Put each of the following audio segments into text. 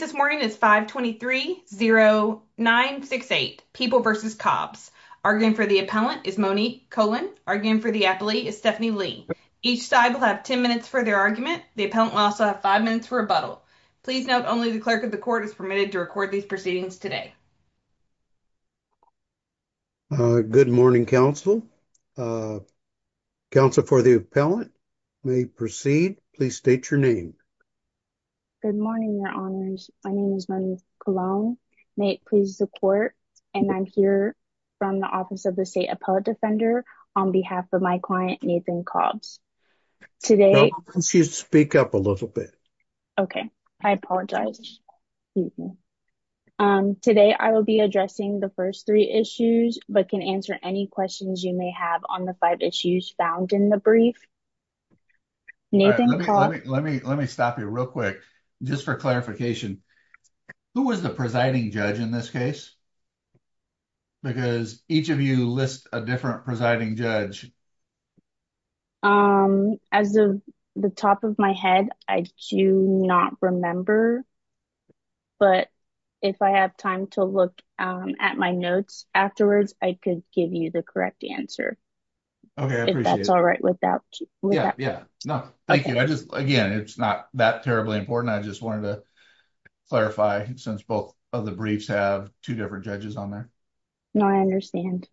this morning is 523-0968 People v. Cobbs. Arguing for the appellant is Monique Cohen. Arguing for the appellee is Stephanie Lee. Each side will have 10 minutes for their argument. The appellant will also have 5 minutes for rebuttal. Please note only the clerk of the court is permitted to record these proceedings today. Good morning, counsel. Counsel for the appellant may proceed. Please state your name. Good morning, your honors. My name is Monique Cologne. May it please the court and I'm here from the office of the state appellate defender on behalf of my client Nathan Cobbs. Today, can you speak up a little bit? Okay, I apologize. Today, I will be addressing the first three issues but can answer any questions you may have on the five issues found in the brief. Let me stop you real quick. Just for clarification, who was the presiding judge in this case? Because each of you lists a different presiding judge. As of the top of my head, I do not remember. But if I have time to look at my notes afterwards, I could give you the correct answer. Okay, that's all right. Again, it's not that terribly important. I just wanted to clarify since both of the briefs have two different judges on there. No, I understand.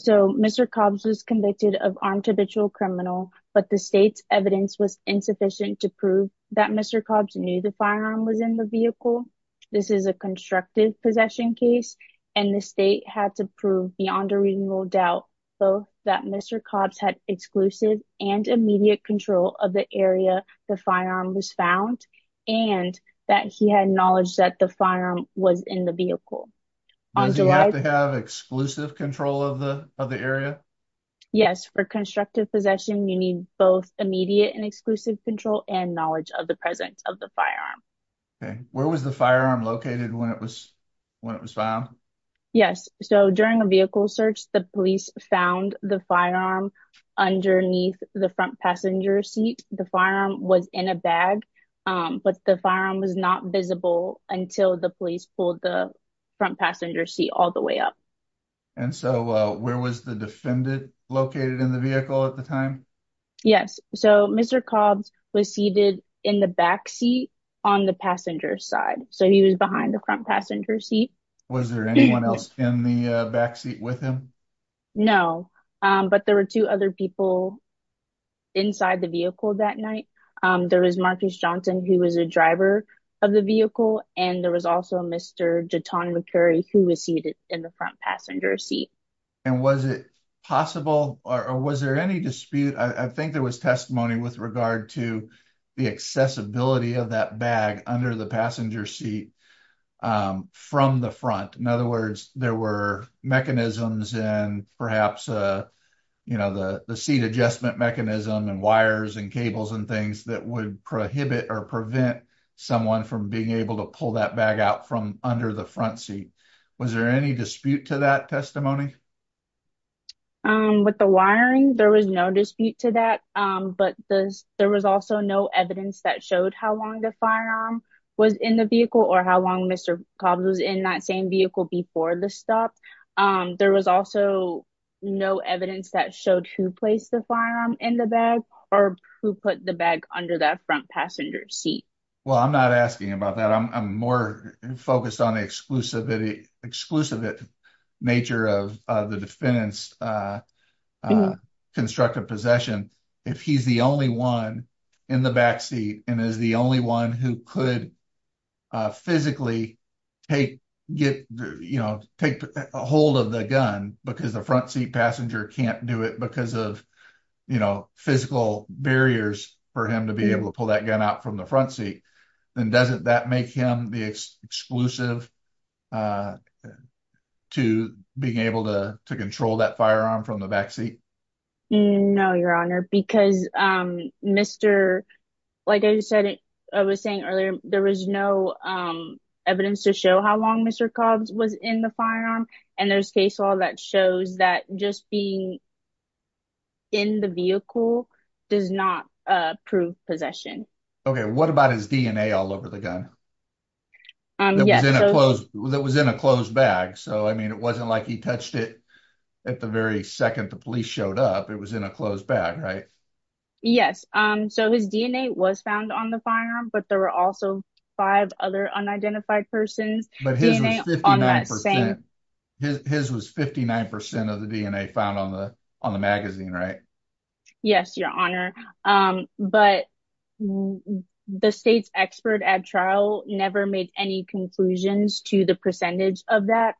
So Mr. Cobbs was convicted of armed habitual criminal, but the state's evidence was insufficient to prove that Mr. Cobbs knew the firearm was in the vehicle. This is a constructive possession case and the state had to prove beyond a reasonable doubt both that Mr. Cobbs had exclusive and immediate control of the area the firearm was found and that he had knowledge that the firearm was in the vehicle. Does he have to have exclusive control of the of the area? Yes, for constructive possession, you need both immediate and exclusive control and knowledge of the presence of the firearm. Okay, where was the firearm located when it was found? Yes, so during a vehicle search, the police found the firearm underneath the front passenger seat. The firearm was in a bag, but the firearm was not visible until the police pulled the front passenger seat all the way up. And so where was the defendant located in the vehicle at the time? Yes, so Mr. Cobbs was seated in the back seat on the passenger side, so he was behind the front passenger seat. Was there anyone else in the back seat with him? No, but there were two other people inside the vehicle that night. There was Marcus Johnson, who was a driver of the vehicle, and there was also Mr. Jaton McCurry, who was seated in the front passenger seat. And was it possible or was there any dispute? I think there was testimony with regard to the accessibility of that bag under the passenger seat from the front. In other words, there were mechanisms and perhaps, you know, the seat adjustment mechanism and wires and cables and things that would prohibit or prevent someone from being able to pull that bag out from under the front seat. Was there any dispute to that testimony? With the wiring, there was no dispute to that, but there was also no evidence that showed how long the firearm was in the vehicle or how long Mr. Cobbs was in that same vehicle before the stop. There was also no evidence that showed who placed the firearm in the bag or who put the bag under that front passenger seat. Well, I'm not asking about that. I'm more focused on the exclusivity nature of the defendant's constructive possession. If he's the only one in the back seat and is the only one who could physically take hold of the gun because the front seat passenger can't do it because of, you know, physical barriers for him to be able to pull that gun out from the front seat, then doesn't that make him the exclusive to being able to control that firearm from the back seat? No, your honor, because Mr. Like I said, I was saying earlier, there was no evidence to show how long Mr. Cobbs was in the firearm and there's case law that shows that just being in the vehicle does not prove possession. Okay. What about his DNA all over the gun? That was in a closed bag. So I mean, it wasn't like he touched it at the very second the police showed up. It was in a closed bag, right? Yes. So his DNA was found on the firearm, but there were also five other unidentified persons. But his was 59% of the DNA found on the magazine, right? Yes, your honor. But the state's expert at trial never made any conclusions to the percentage of that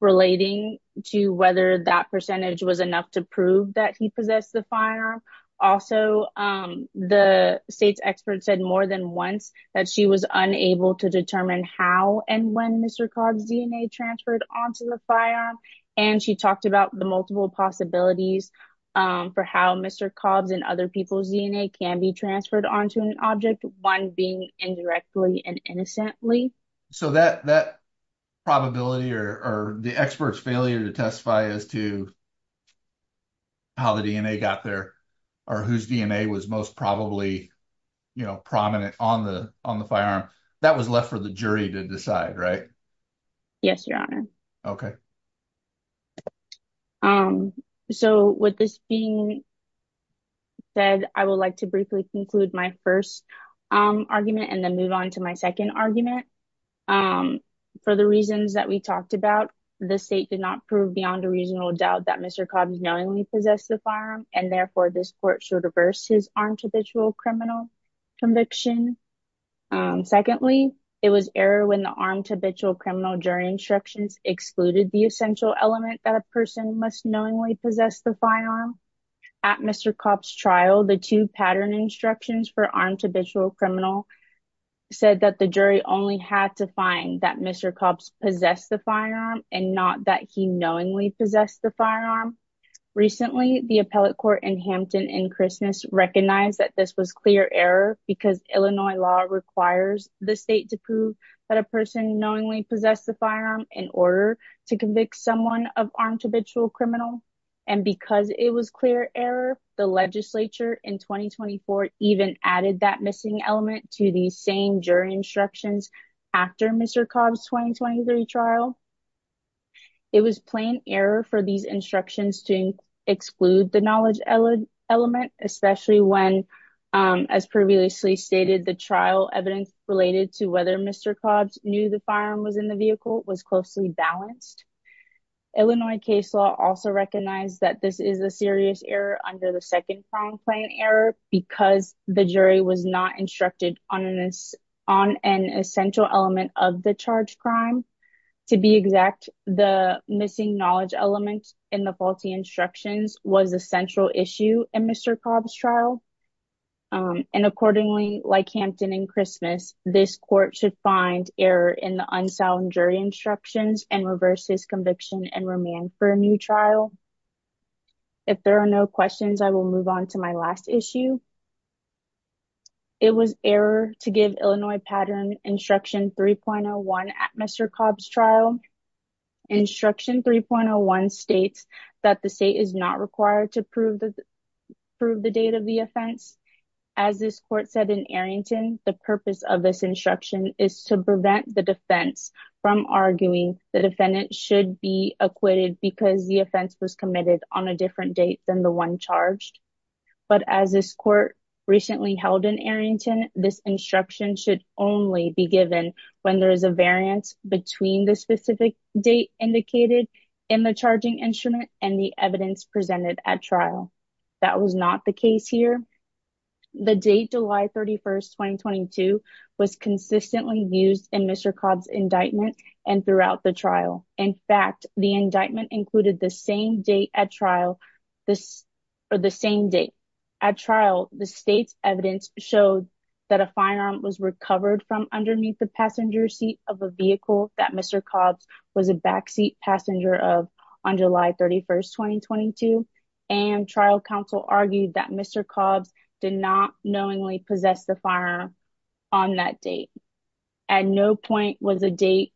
relating to whether that percentage was enough to prove that he possessed the firearm. Also, the state's expert said more than once that she was unable to determine how and when Mr. Cobbs' DNA transferred onto the firearm. And she talked about the multiple possibilities for how Mr. Cobbs' and other people's DNA can be transferred onto an object, one being indirectly and innocently. So that probability or the expert's failure to testify as to how the DNA got there, or whose DNA was most probably, you know, prominent on the firearm, that was left for the jury to decide, right? Yes, your honor. Okay. So with this being said, I would like to briefly conclude my first argument and then move on to my second argument. For the reasons that we talked about, the state did not prove beyond a reasonable doubt that Mr. Cobbs knowingly possessed the firearm, and therefore this court should reverse his armed habitual criminal conviction. Secondly, it was error when the armed habitual criminal jury instructions excluded the essential element that a person must knowingly possess the firearm. At Mr. Cobbs' trial, the two pattern instructions for armed habitual criminal said that the jury only had to find that Mr. Cobbs possessed the firearm and not that he knowingly possessed the firearm. Recently, the appellate court in Hampton and Christmas recognized that this was clear error because Illinois law requires the state to prove that a person knowingly possessed the firearm in order to convict someone of armed habitual criminal. And because it was clear error, the legislature in 2024 even added that missing element to the same jury instructions after Mr. Cobbs' 2023 trial. It was plain error for these instructions to exclude the knowledge element, especially when, as previously stated, the trial evidence related to whether Mr. Cobbs knew the firearm was in the vehicle was closely balanced. Illinois case law also recognized that this is a serious error under the second crime plan error because the jury was not instructed on an essential element of the charge crime. To be exact, the missing knowledge element in the faulty instructions was a central issue in Mr. Cobbs' trial. And accordingly, like Hampton and Christmas, this court should find error in the unsound jury instructions and reverse his conviction and remand for a new trial. If there are no questions, I will move on to my last issue. It was error to give Illinois pattern instruction 3.01 at Mr. Cobbs' trial. Instruction 3.01 states that the state is not required to prove the date of the offense. As this court said in Arrington, the purpose of this instruction is to prevent the defense from arguing the defendant should be committed on a different date than the one charged. But as this court recently held in Arrington, this instruction should only be given when there is a variance between the specific date indicated in the charging instrument and the evidence presented at trial. That was not the case here. The date, July 31, 2022, was consistently used in Mr. Cobbs' indictment and throughout the trial. In fact, the indictment included the same date at trial. At trial, the state's evidence showed that a firearm was recovered from underneath the passenger seat of a vehicle that Mr. Cobbs was a backseat passenger of on July 31, 2022, and trial counsel argued that Mr. Cobbs did not knowingly possess the firearm on that date. At no point was a date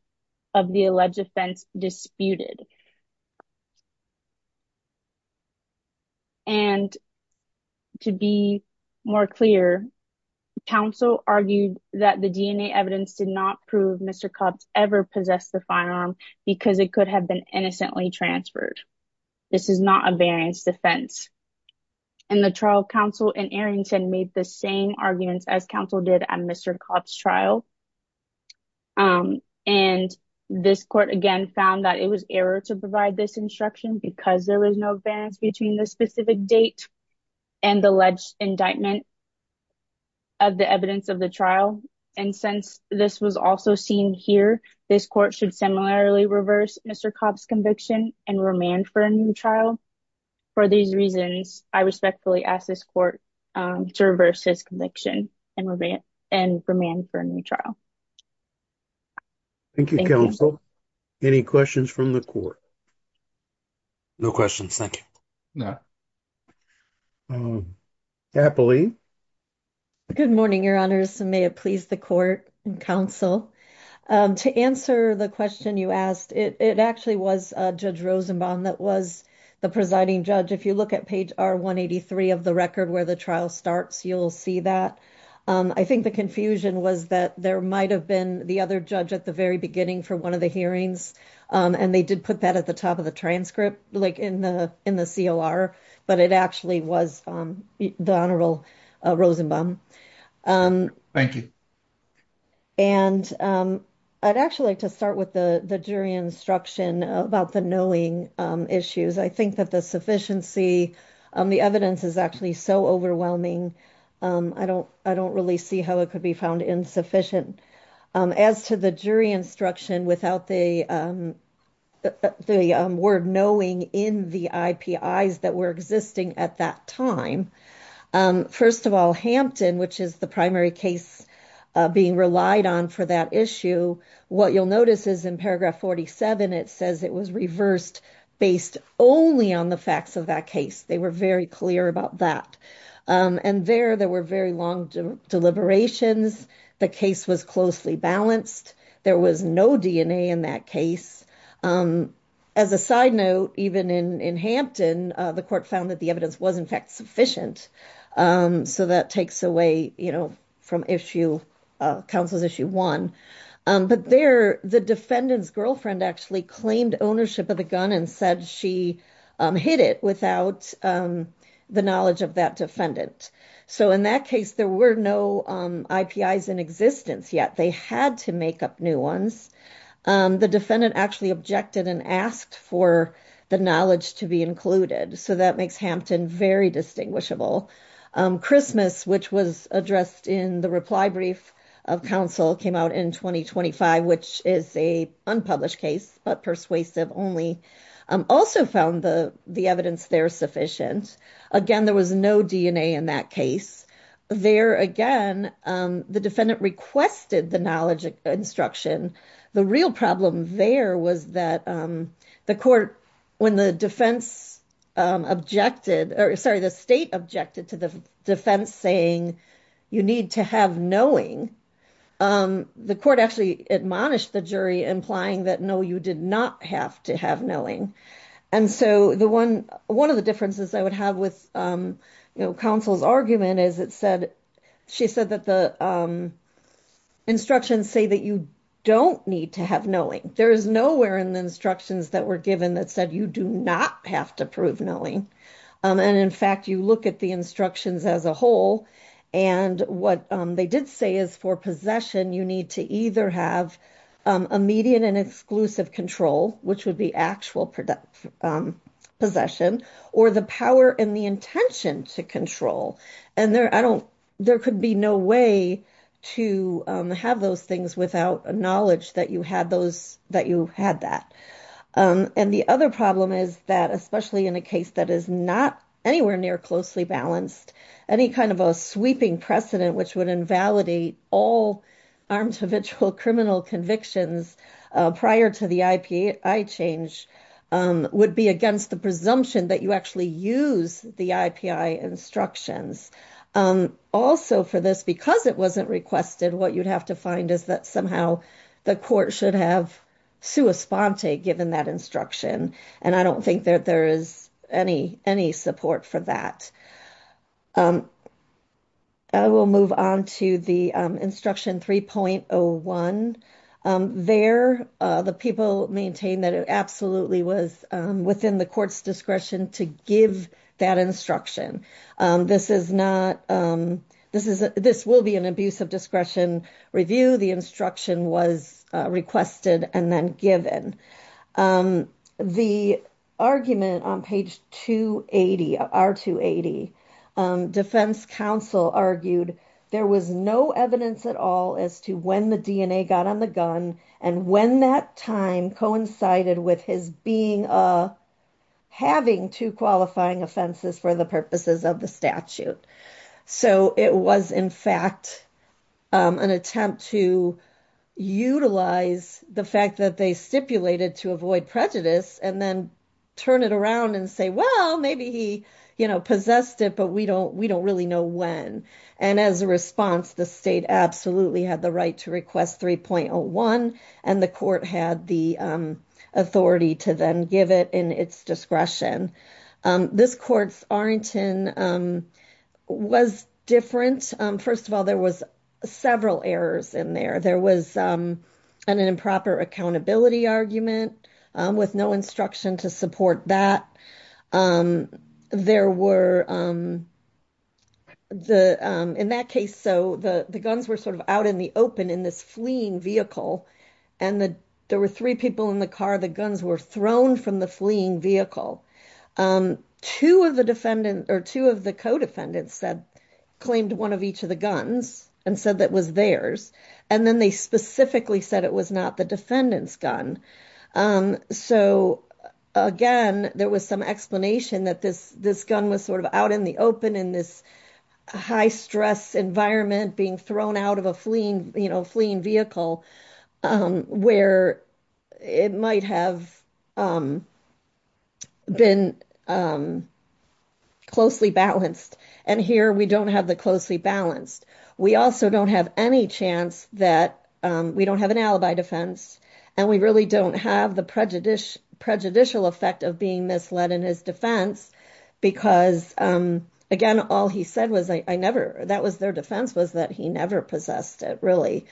of the alleged offense disputed. And to be more clear, counsel argued that the DNA evidence did not prove Mr. Cobbs ever possessed the firearm because it could have been innocently transferred. This is not a variance defense. And the trial counsel in Arrington made the same arguments as counsel did at Mr. Cobbs' trial. And this court again found that it was error to provide this instruction because there was no variance between the specific date and the alleged indictment of the evidence of the trial. And since this was also seen here, this court should similarly reverse Mr. Cobbs' conviction and remand for a new trial. For these reasons, I respectfully ask this court to reverse his conviction and remand for a new trial. Thank you, counsel. Any questions from the court? No questions. Thank you. Capoli. Good morning, your honors. May it please the court and counsel. To answer the question you asked, it actually was Judge Rosenbaum that was the presiding judge. If you look at page R-183 of the record where the trial starts, you'll see that. I think the confusion was that there might have been the other judge at the very beginning for one of the hearings, and they did put that at the top of the transcript, like in the in the COR, but it actually was the Honorable Rosenbaum. Thank you. And I'd actually like to start with the the jury instruction about the knowing issues. I think that the sufficiency of the evidence is actually so overwhelming. I don't really see how it could be found insufficient. As to the jury instruction, without the the word knowing in the IPIs that were existing at that time. First of all, Hampton, which is the primary case being relied on for that issue, what you'll notice is in paragraph 47, it says it was reversed based only on the facts of that case. They were very clear about that. And there, there were very long deliberations. The case was closely balanced. There was no DNA in that case. As a side note, even in Hampton, the court found that the evidence was, in fact, sufficient. So that takes away, you know, from issue, counsel's issue one. But there, the defendant's girlfriend actually claimed ownership of the gun and said she hit it without the knowledge of that defendant. So in that case, there were no IPIs in existence yet. They had to make up new ones. The defendant actually objected and asked for the knowledge to be included. So that makes Hampton very distinguishable. Christmas, which was addressed in the reply brief of counsel, came out in 2025, which is a unpublished case, but persuasive only. Also found the evidence there sufficient. Again, there was no DNA in that case. There, again, the defendant requested the knowledge instruction. The real problem there was that the court, when the defense objected, or sorry, the state objected to the defense saying you need to have knowing, the court actually admonished the jury, implying that no, you did not have to have knowing. And so the one, one of the differences I would have with, you know, counsel's argument is it said, she said that the instructions say that you don't need to have knowing. There is nowhere in the instructions that were given that said you do not have to prove knowing. And in fact, you look at the instructions as a whole, and what they did say is for possession, you need to either have immediate and exclusive control, which would be actual possession, or the power and the intention to control. And there, I don't, there could be no way to have those things without a knowledge that you had those, that you had that. And the other problem is that, especially in a case that is not anywhere near closely balanced, any kind of a sweeping precedent, which would invalidate all armed habitual criminal convictions prior to the IPI change, would be against the presumption that you actually use the IPI instructions. Also for this, because it wasn't requested, what you'd have to find is that somehow the court should have sua sponte given that instruction. And I 3.01. There, the people maintain that it absolutely was within the court's discretion to give that instruction. This is not, this is, this will be an abuse of discretion review, the instruction was requested and then given. The argument on page 280, R-280, defense counsel argued, there was no evidence at all as to when the DNA got on the gun, and when that time coincided with his being, having two qualifying offenses for the purposes of the statute. So it was, in fact, an attempt to utilize the fact that they stipulated to avoid prejudice and then turn it around and say, well, maybe he, you know, possessed it, but we don't, we don't really know when. And as a response, the state absolutely had the right to request 3.01. And the court had the authority to then give it in its discretion. This court's Arrington was different. First of all, there was several errors in there. There was an improper accountability argument with no instruction to support that. There were, the, in that case, so the guns were sort of out in the open in this fleeing vehicle, and the, there were three people in the car, the guns were thrown from the fleeing vehicle. Two of the defendant, or two of the co-defendants said, claimed one of each of the guns and said that was theirs. And then they specifically said it was not the defendant's gun. So, again, there was some explanation that this, this gun was sort of out in the open in this high stress environment being thrown out of a fleeing, you know, fleeing vehicle, where it might have been closely balanced. And here we don't have the closely balanced, we also don't have any chance that we don't have an alibi defense. And we really don't have the prejudicial effect of being misled in his defense. Because, again, all he said was, I never, that was their defense was that he never possessed it really,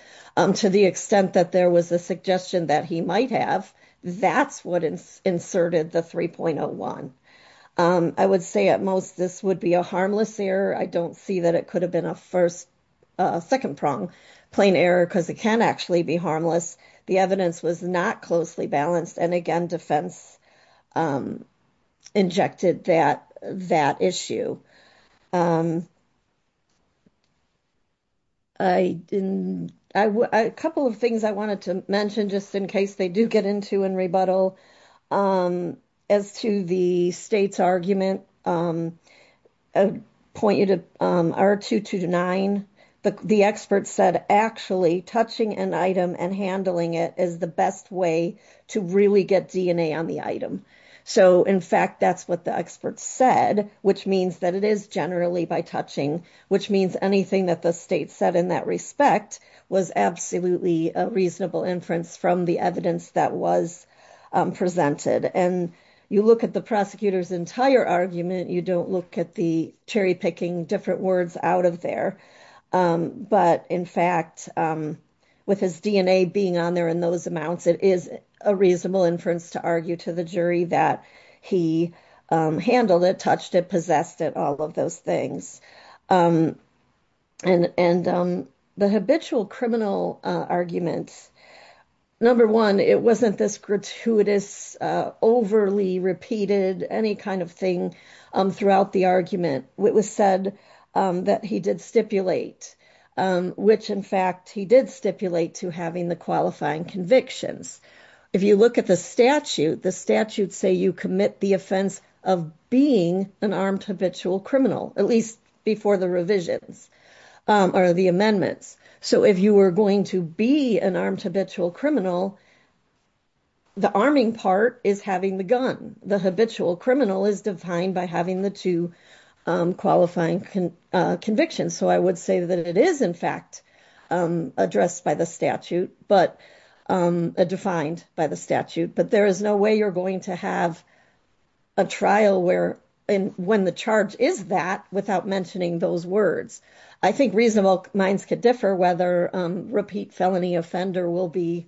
to the extent that there was a suggestion that he might have, that's what inserted the 3.01. I would say at most, this would be a harmless error, I don't see that it could have been a first, second prong plane error, because it can actually be harmless. The evidence was not closely balanced. And again, defense injected that, that issue. I didn't, a couple of things I wanted to mention, just in case they do get into and rebuttal, as to the state's argument, point you to R229, the expert said, actually touching an item and handling it is the best way to really get DNA on the item. So in fact, that's what the expert said, which means that it is generally by touching, which means anything that the state said in that respect, was absolutely a reasonable inference from the evidence that was presented. And you look at the prosecutor's entire argument, you don't look at the cherry picking different words out of there. But in fact, with his DNA being on there in those amounts, it is a reasonable inference to argue to the jury that he handled it, touched it, possessed it, all of those things. And the habitual criminal arguments, number one, it wasn't this gratuitous, overly repeated, any kind of thing throughout the argument, it was said that he did stipulate, which in fact, he did stipulate to having the qualifying convictions. If you look at the statute, the statute say you commit the offense of being an armed habitual criminal, at least before the revisions, or the amendments. So if you were going to be an armed habitual criminal, the arming part is having the gun, the habitual criminal is defined by having the two qualifying convictions. So I would say that it is in fact, addressed by the statute, but defined by the statute, but there is no way you're going to have a trial where in when the charge is that without mentioning those words, I think reasonable minds could differ whether repeat felony offender will be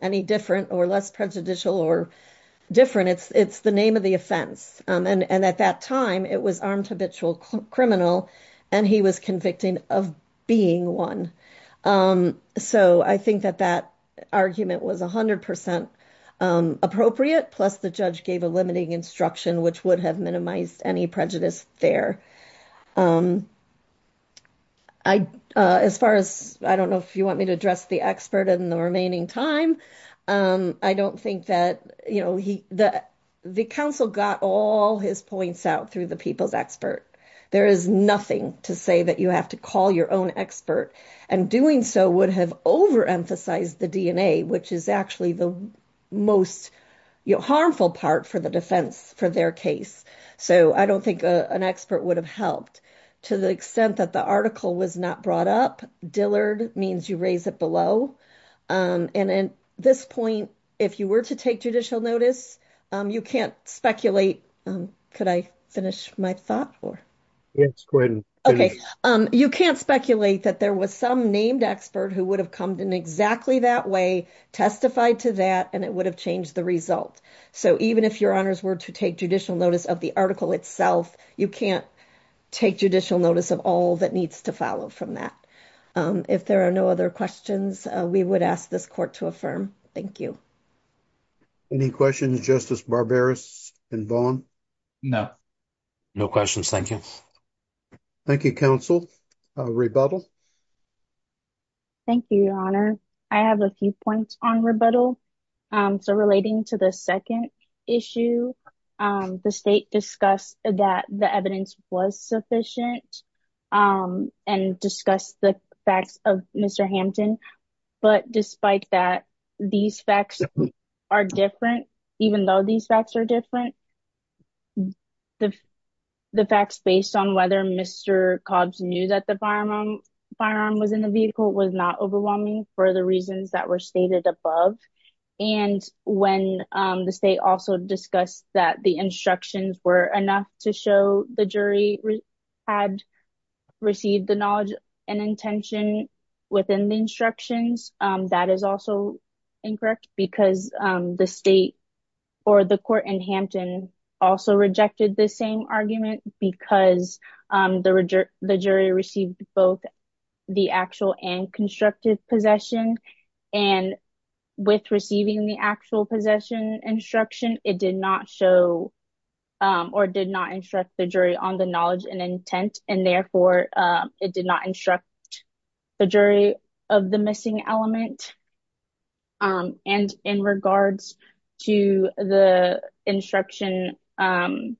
any different or less prejudicial or different. It's the name of the offense. And at that time, it was armed habitual criminal, and he was convicted of being one. So I think that that argument was 100% appropriate, plus the judge gave a limiting instruction, which would have minimized any prejudice there. I, as far as I don't know if you want me to address the expert in the remaining time, I don't think that, you know, he that the council got all his points out through the people's expert. There is nothing to say that you have to call your own expert. And doing so would have overemphasized the DNA, which is actually the most harmful part for the defense for their case. So I don't think an expert would have helped to the extent that the article was not brought up. Dillard means you raise it below. And then this point, if you were to take judicial notice, you can't speculate. Could I finish my thought or? Okay, you can't speculate that there was some named expert who would have come in exactly that way, testified to that, and it would have changed the result. So even if your honors were to take judicial notice of the article itself, you can't take judicial notice of all that needs to follow from that. If there are no other questions, we would ask this court to affirm. Thank you. Any questions, Justice Barberis and Vaughn? No, no questions. Thank you. Thank you, counsel. Rebuttal. Thank you, your honor. I have a few points on rebuttal. So relating to the second issue, the state discussed that the evidence was sufficient and discussed the facts of Mr. Hampton. But despite that, these facts are different, even though these facts are different. The facts based on whether Mr. Cobbs knew that the firearm was in the vehicle was not overwhelming for the reasons that were stated above. And when the state also discussed that the instructions were enough to show the jury had received the knowledge and intention within the instructions, that is also incorrect because the state or the court in Hampton also rejected the same argument because the jury received both the actual and constructive possession. And with receiving the actual possession instruction, it did not show or did not instruct the jury on the knowledge and intent. And therefore, it did not instruct the jury of the missing element. And in regards to the instruction 3.01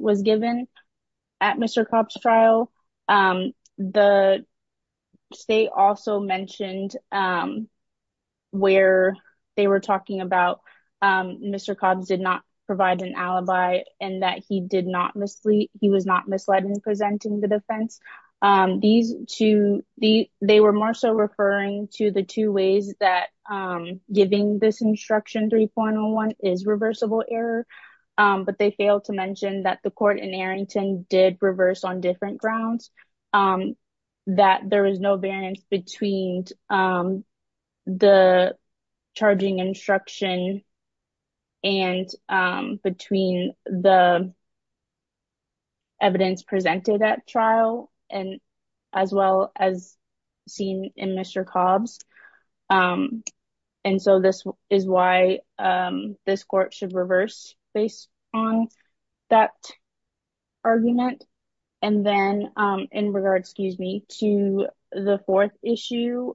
was given at Mr. Cobbs trial, the state also mentioned where they were talking about Mr. Cobbs did not provide an alibi and that he did not mislead. He was not misled in presenting the defense. These two, they were more so referring to the two ways that giving this instruction 3.01 is reversible error, but they failed to mention that the court in Arrington did reverse on different grounds, that there was no variance between the charging instruction and between the evidence presented at trial and as well as seen in Mr. Cobbs. And so this is why this court should reverse based on that argument. And then in regards, excuse me, to the fourth issue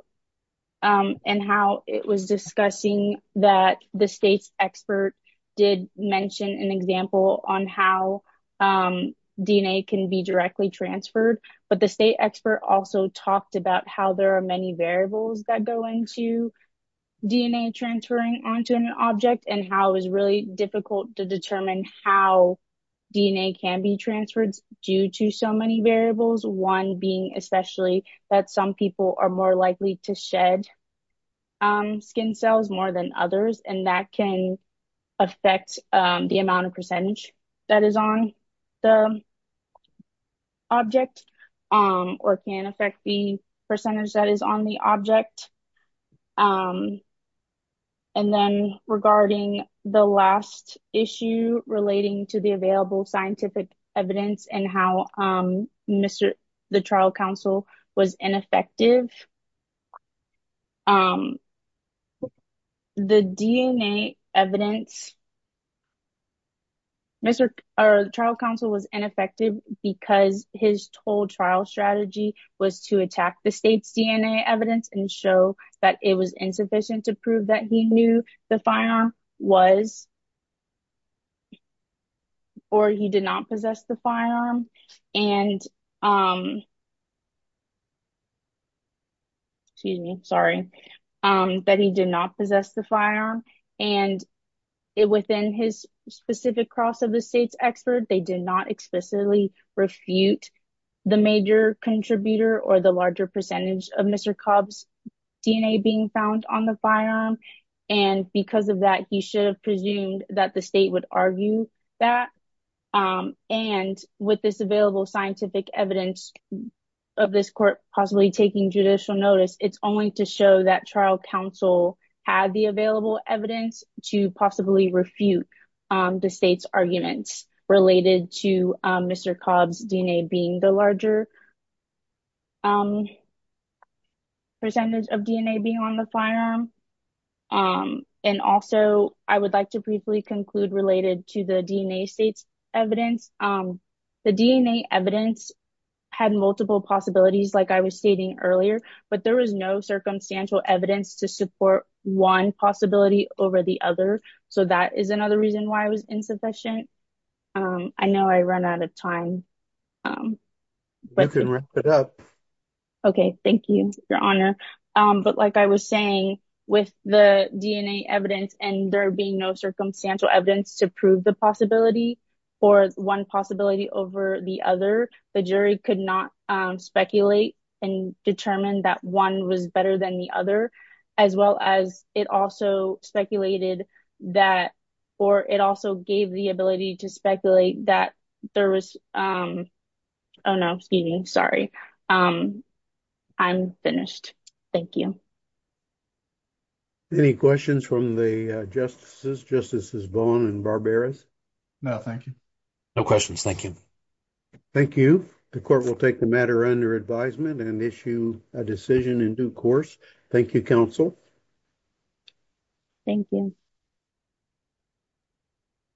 and how it was discussing that the state's expert did mention an example on how DNA can be directly transferred. But the state expert also talked about how there are many variables that go into DNA transferring onto an object and how it was really difficult to determine how DNA can be transferred due to so many variables. One being especially that some people are more likely to shed skin cells more than others, and that can affect the amount of percentage that is on the object or can affect the percentage that is on the object. And then regarding the last issue relating to the available scientific evidence and how Mr. the trial counsel was ineffective. The DNA evidence, Mr. or the trial counsel was ineffective because his told trial strategy was to attack the state's DNA evidence and show that it was insufficient to prove that he knew the firearm was or he did not possess the firearm. And excuse me, sorry, that he did not possess the firearm. And within his specific cross of the state's expert, they did not explicitly refute the major contributor or the larger percentage of Mr. Cobb's DNA being found on the firearm. And because of that, he should have presumed that the state would argue that. And with this available scientific evidence of this court possibly taking judicial notice, it's only to show that trial counsel had the available evidence to possibly refute the state's arguments related to Mr. Cobb's DNA being the larger percentage of DNA being on the firearm. And also I would like to briefly conclude related to the DNA state's evidence. The DNA evidence had multiple possibilities like I was stating earlier, but there was no circumstantial evidence to support one possibility over the other. So that is another reason why it was insufficient. I know I ran out of time. You can wrap it up. Okay. Thank you, Your Honor. But like I was saying, with the DNA evidence and there being no circumstantial evidence to prove the possibility for one possibility over the other, the jury could not speculate and determine that one was better than the other, as well as it also speculated that, or it also gave the ability to speculate that there was, oh no, excuse me, sorry. I'm finished. Thank you. Any questions from the justices? Justices Bowen and Barberas? No, thank you. No questions. Thank you. Thank you. The court will take the matter under advisement and issue a decision in due course. Thank you, counsel. Thank you.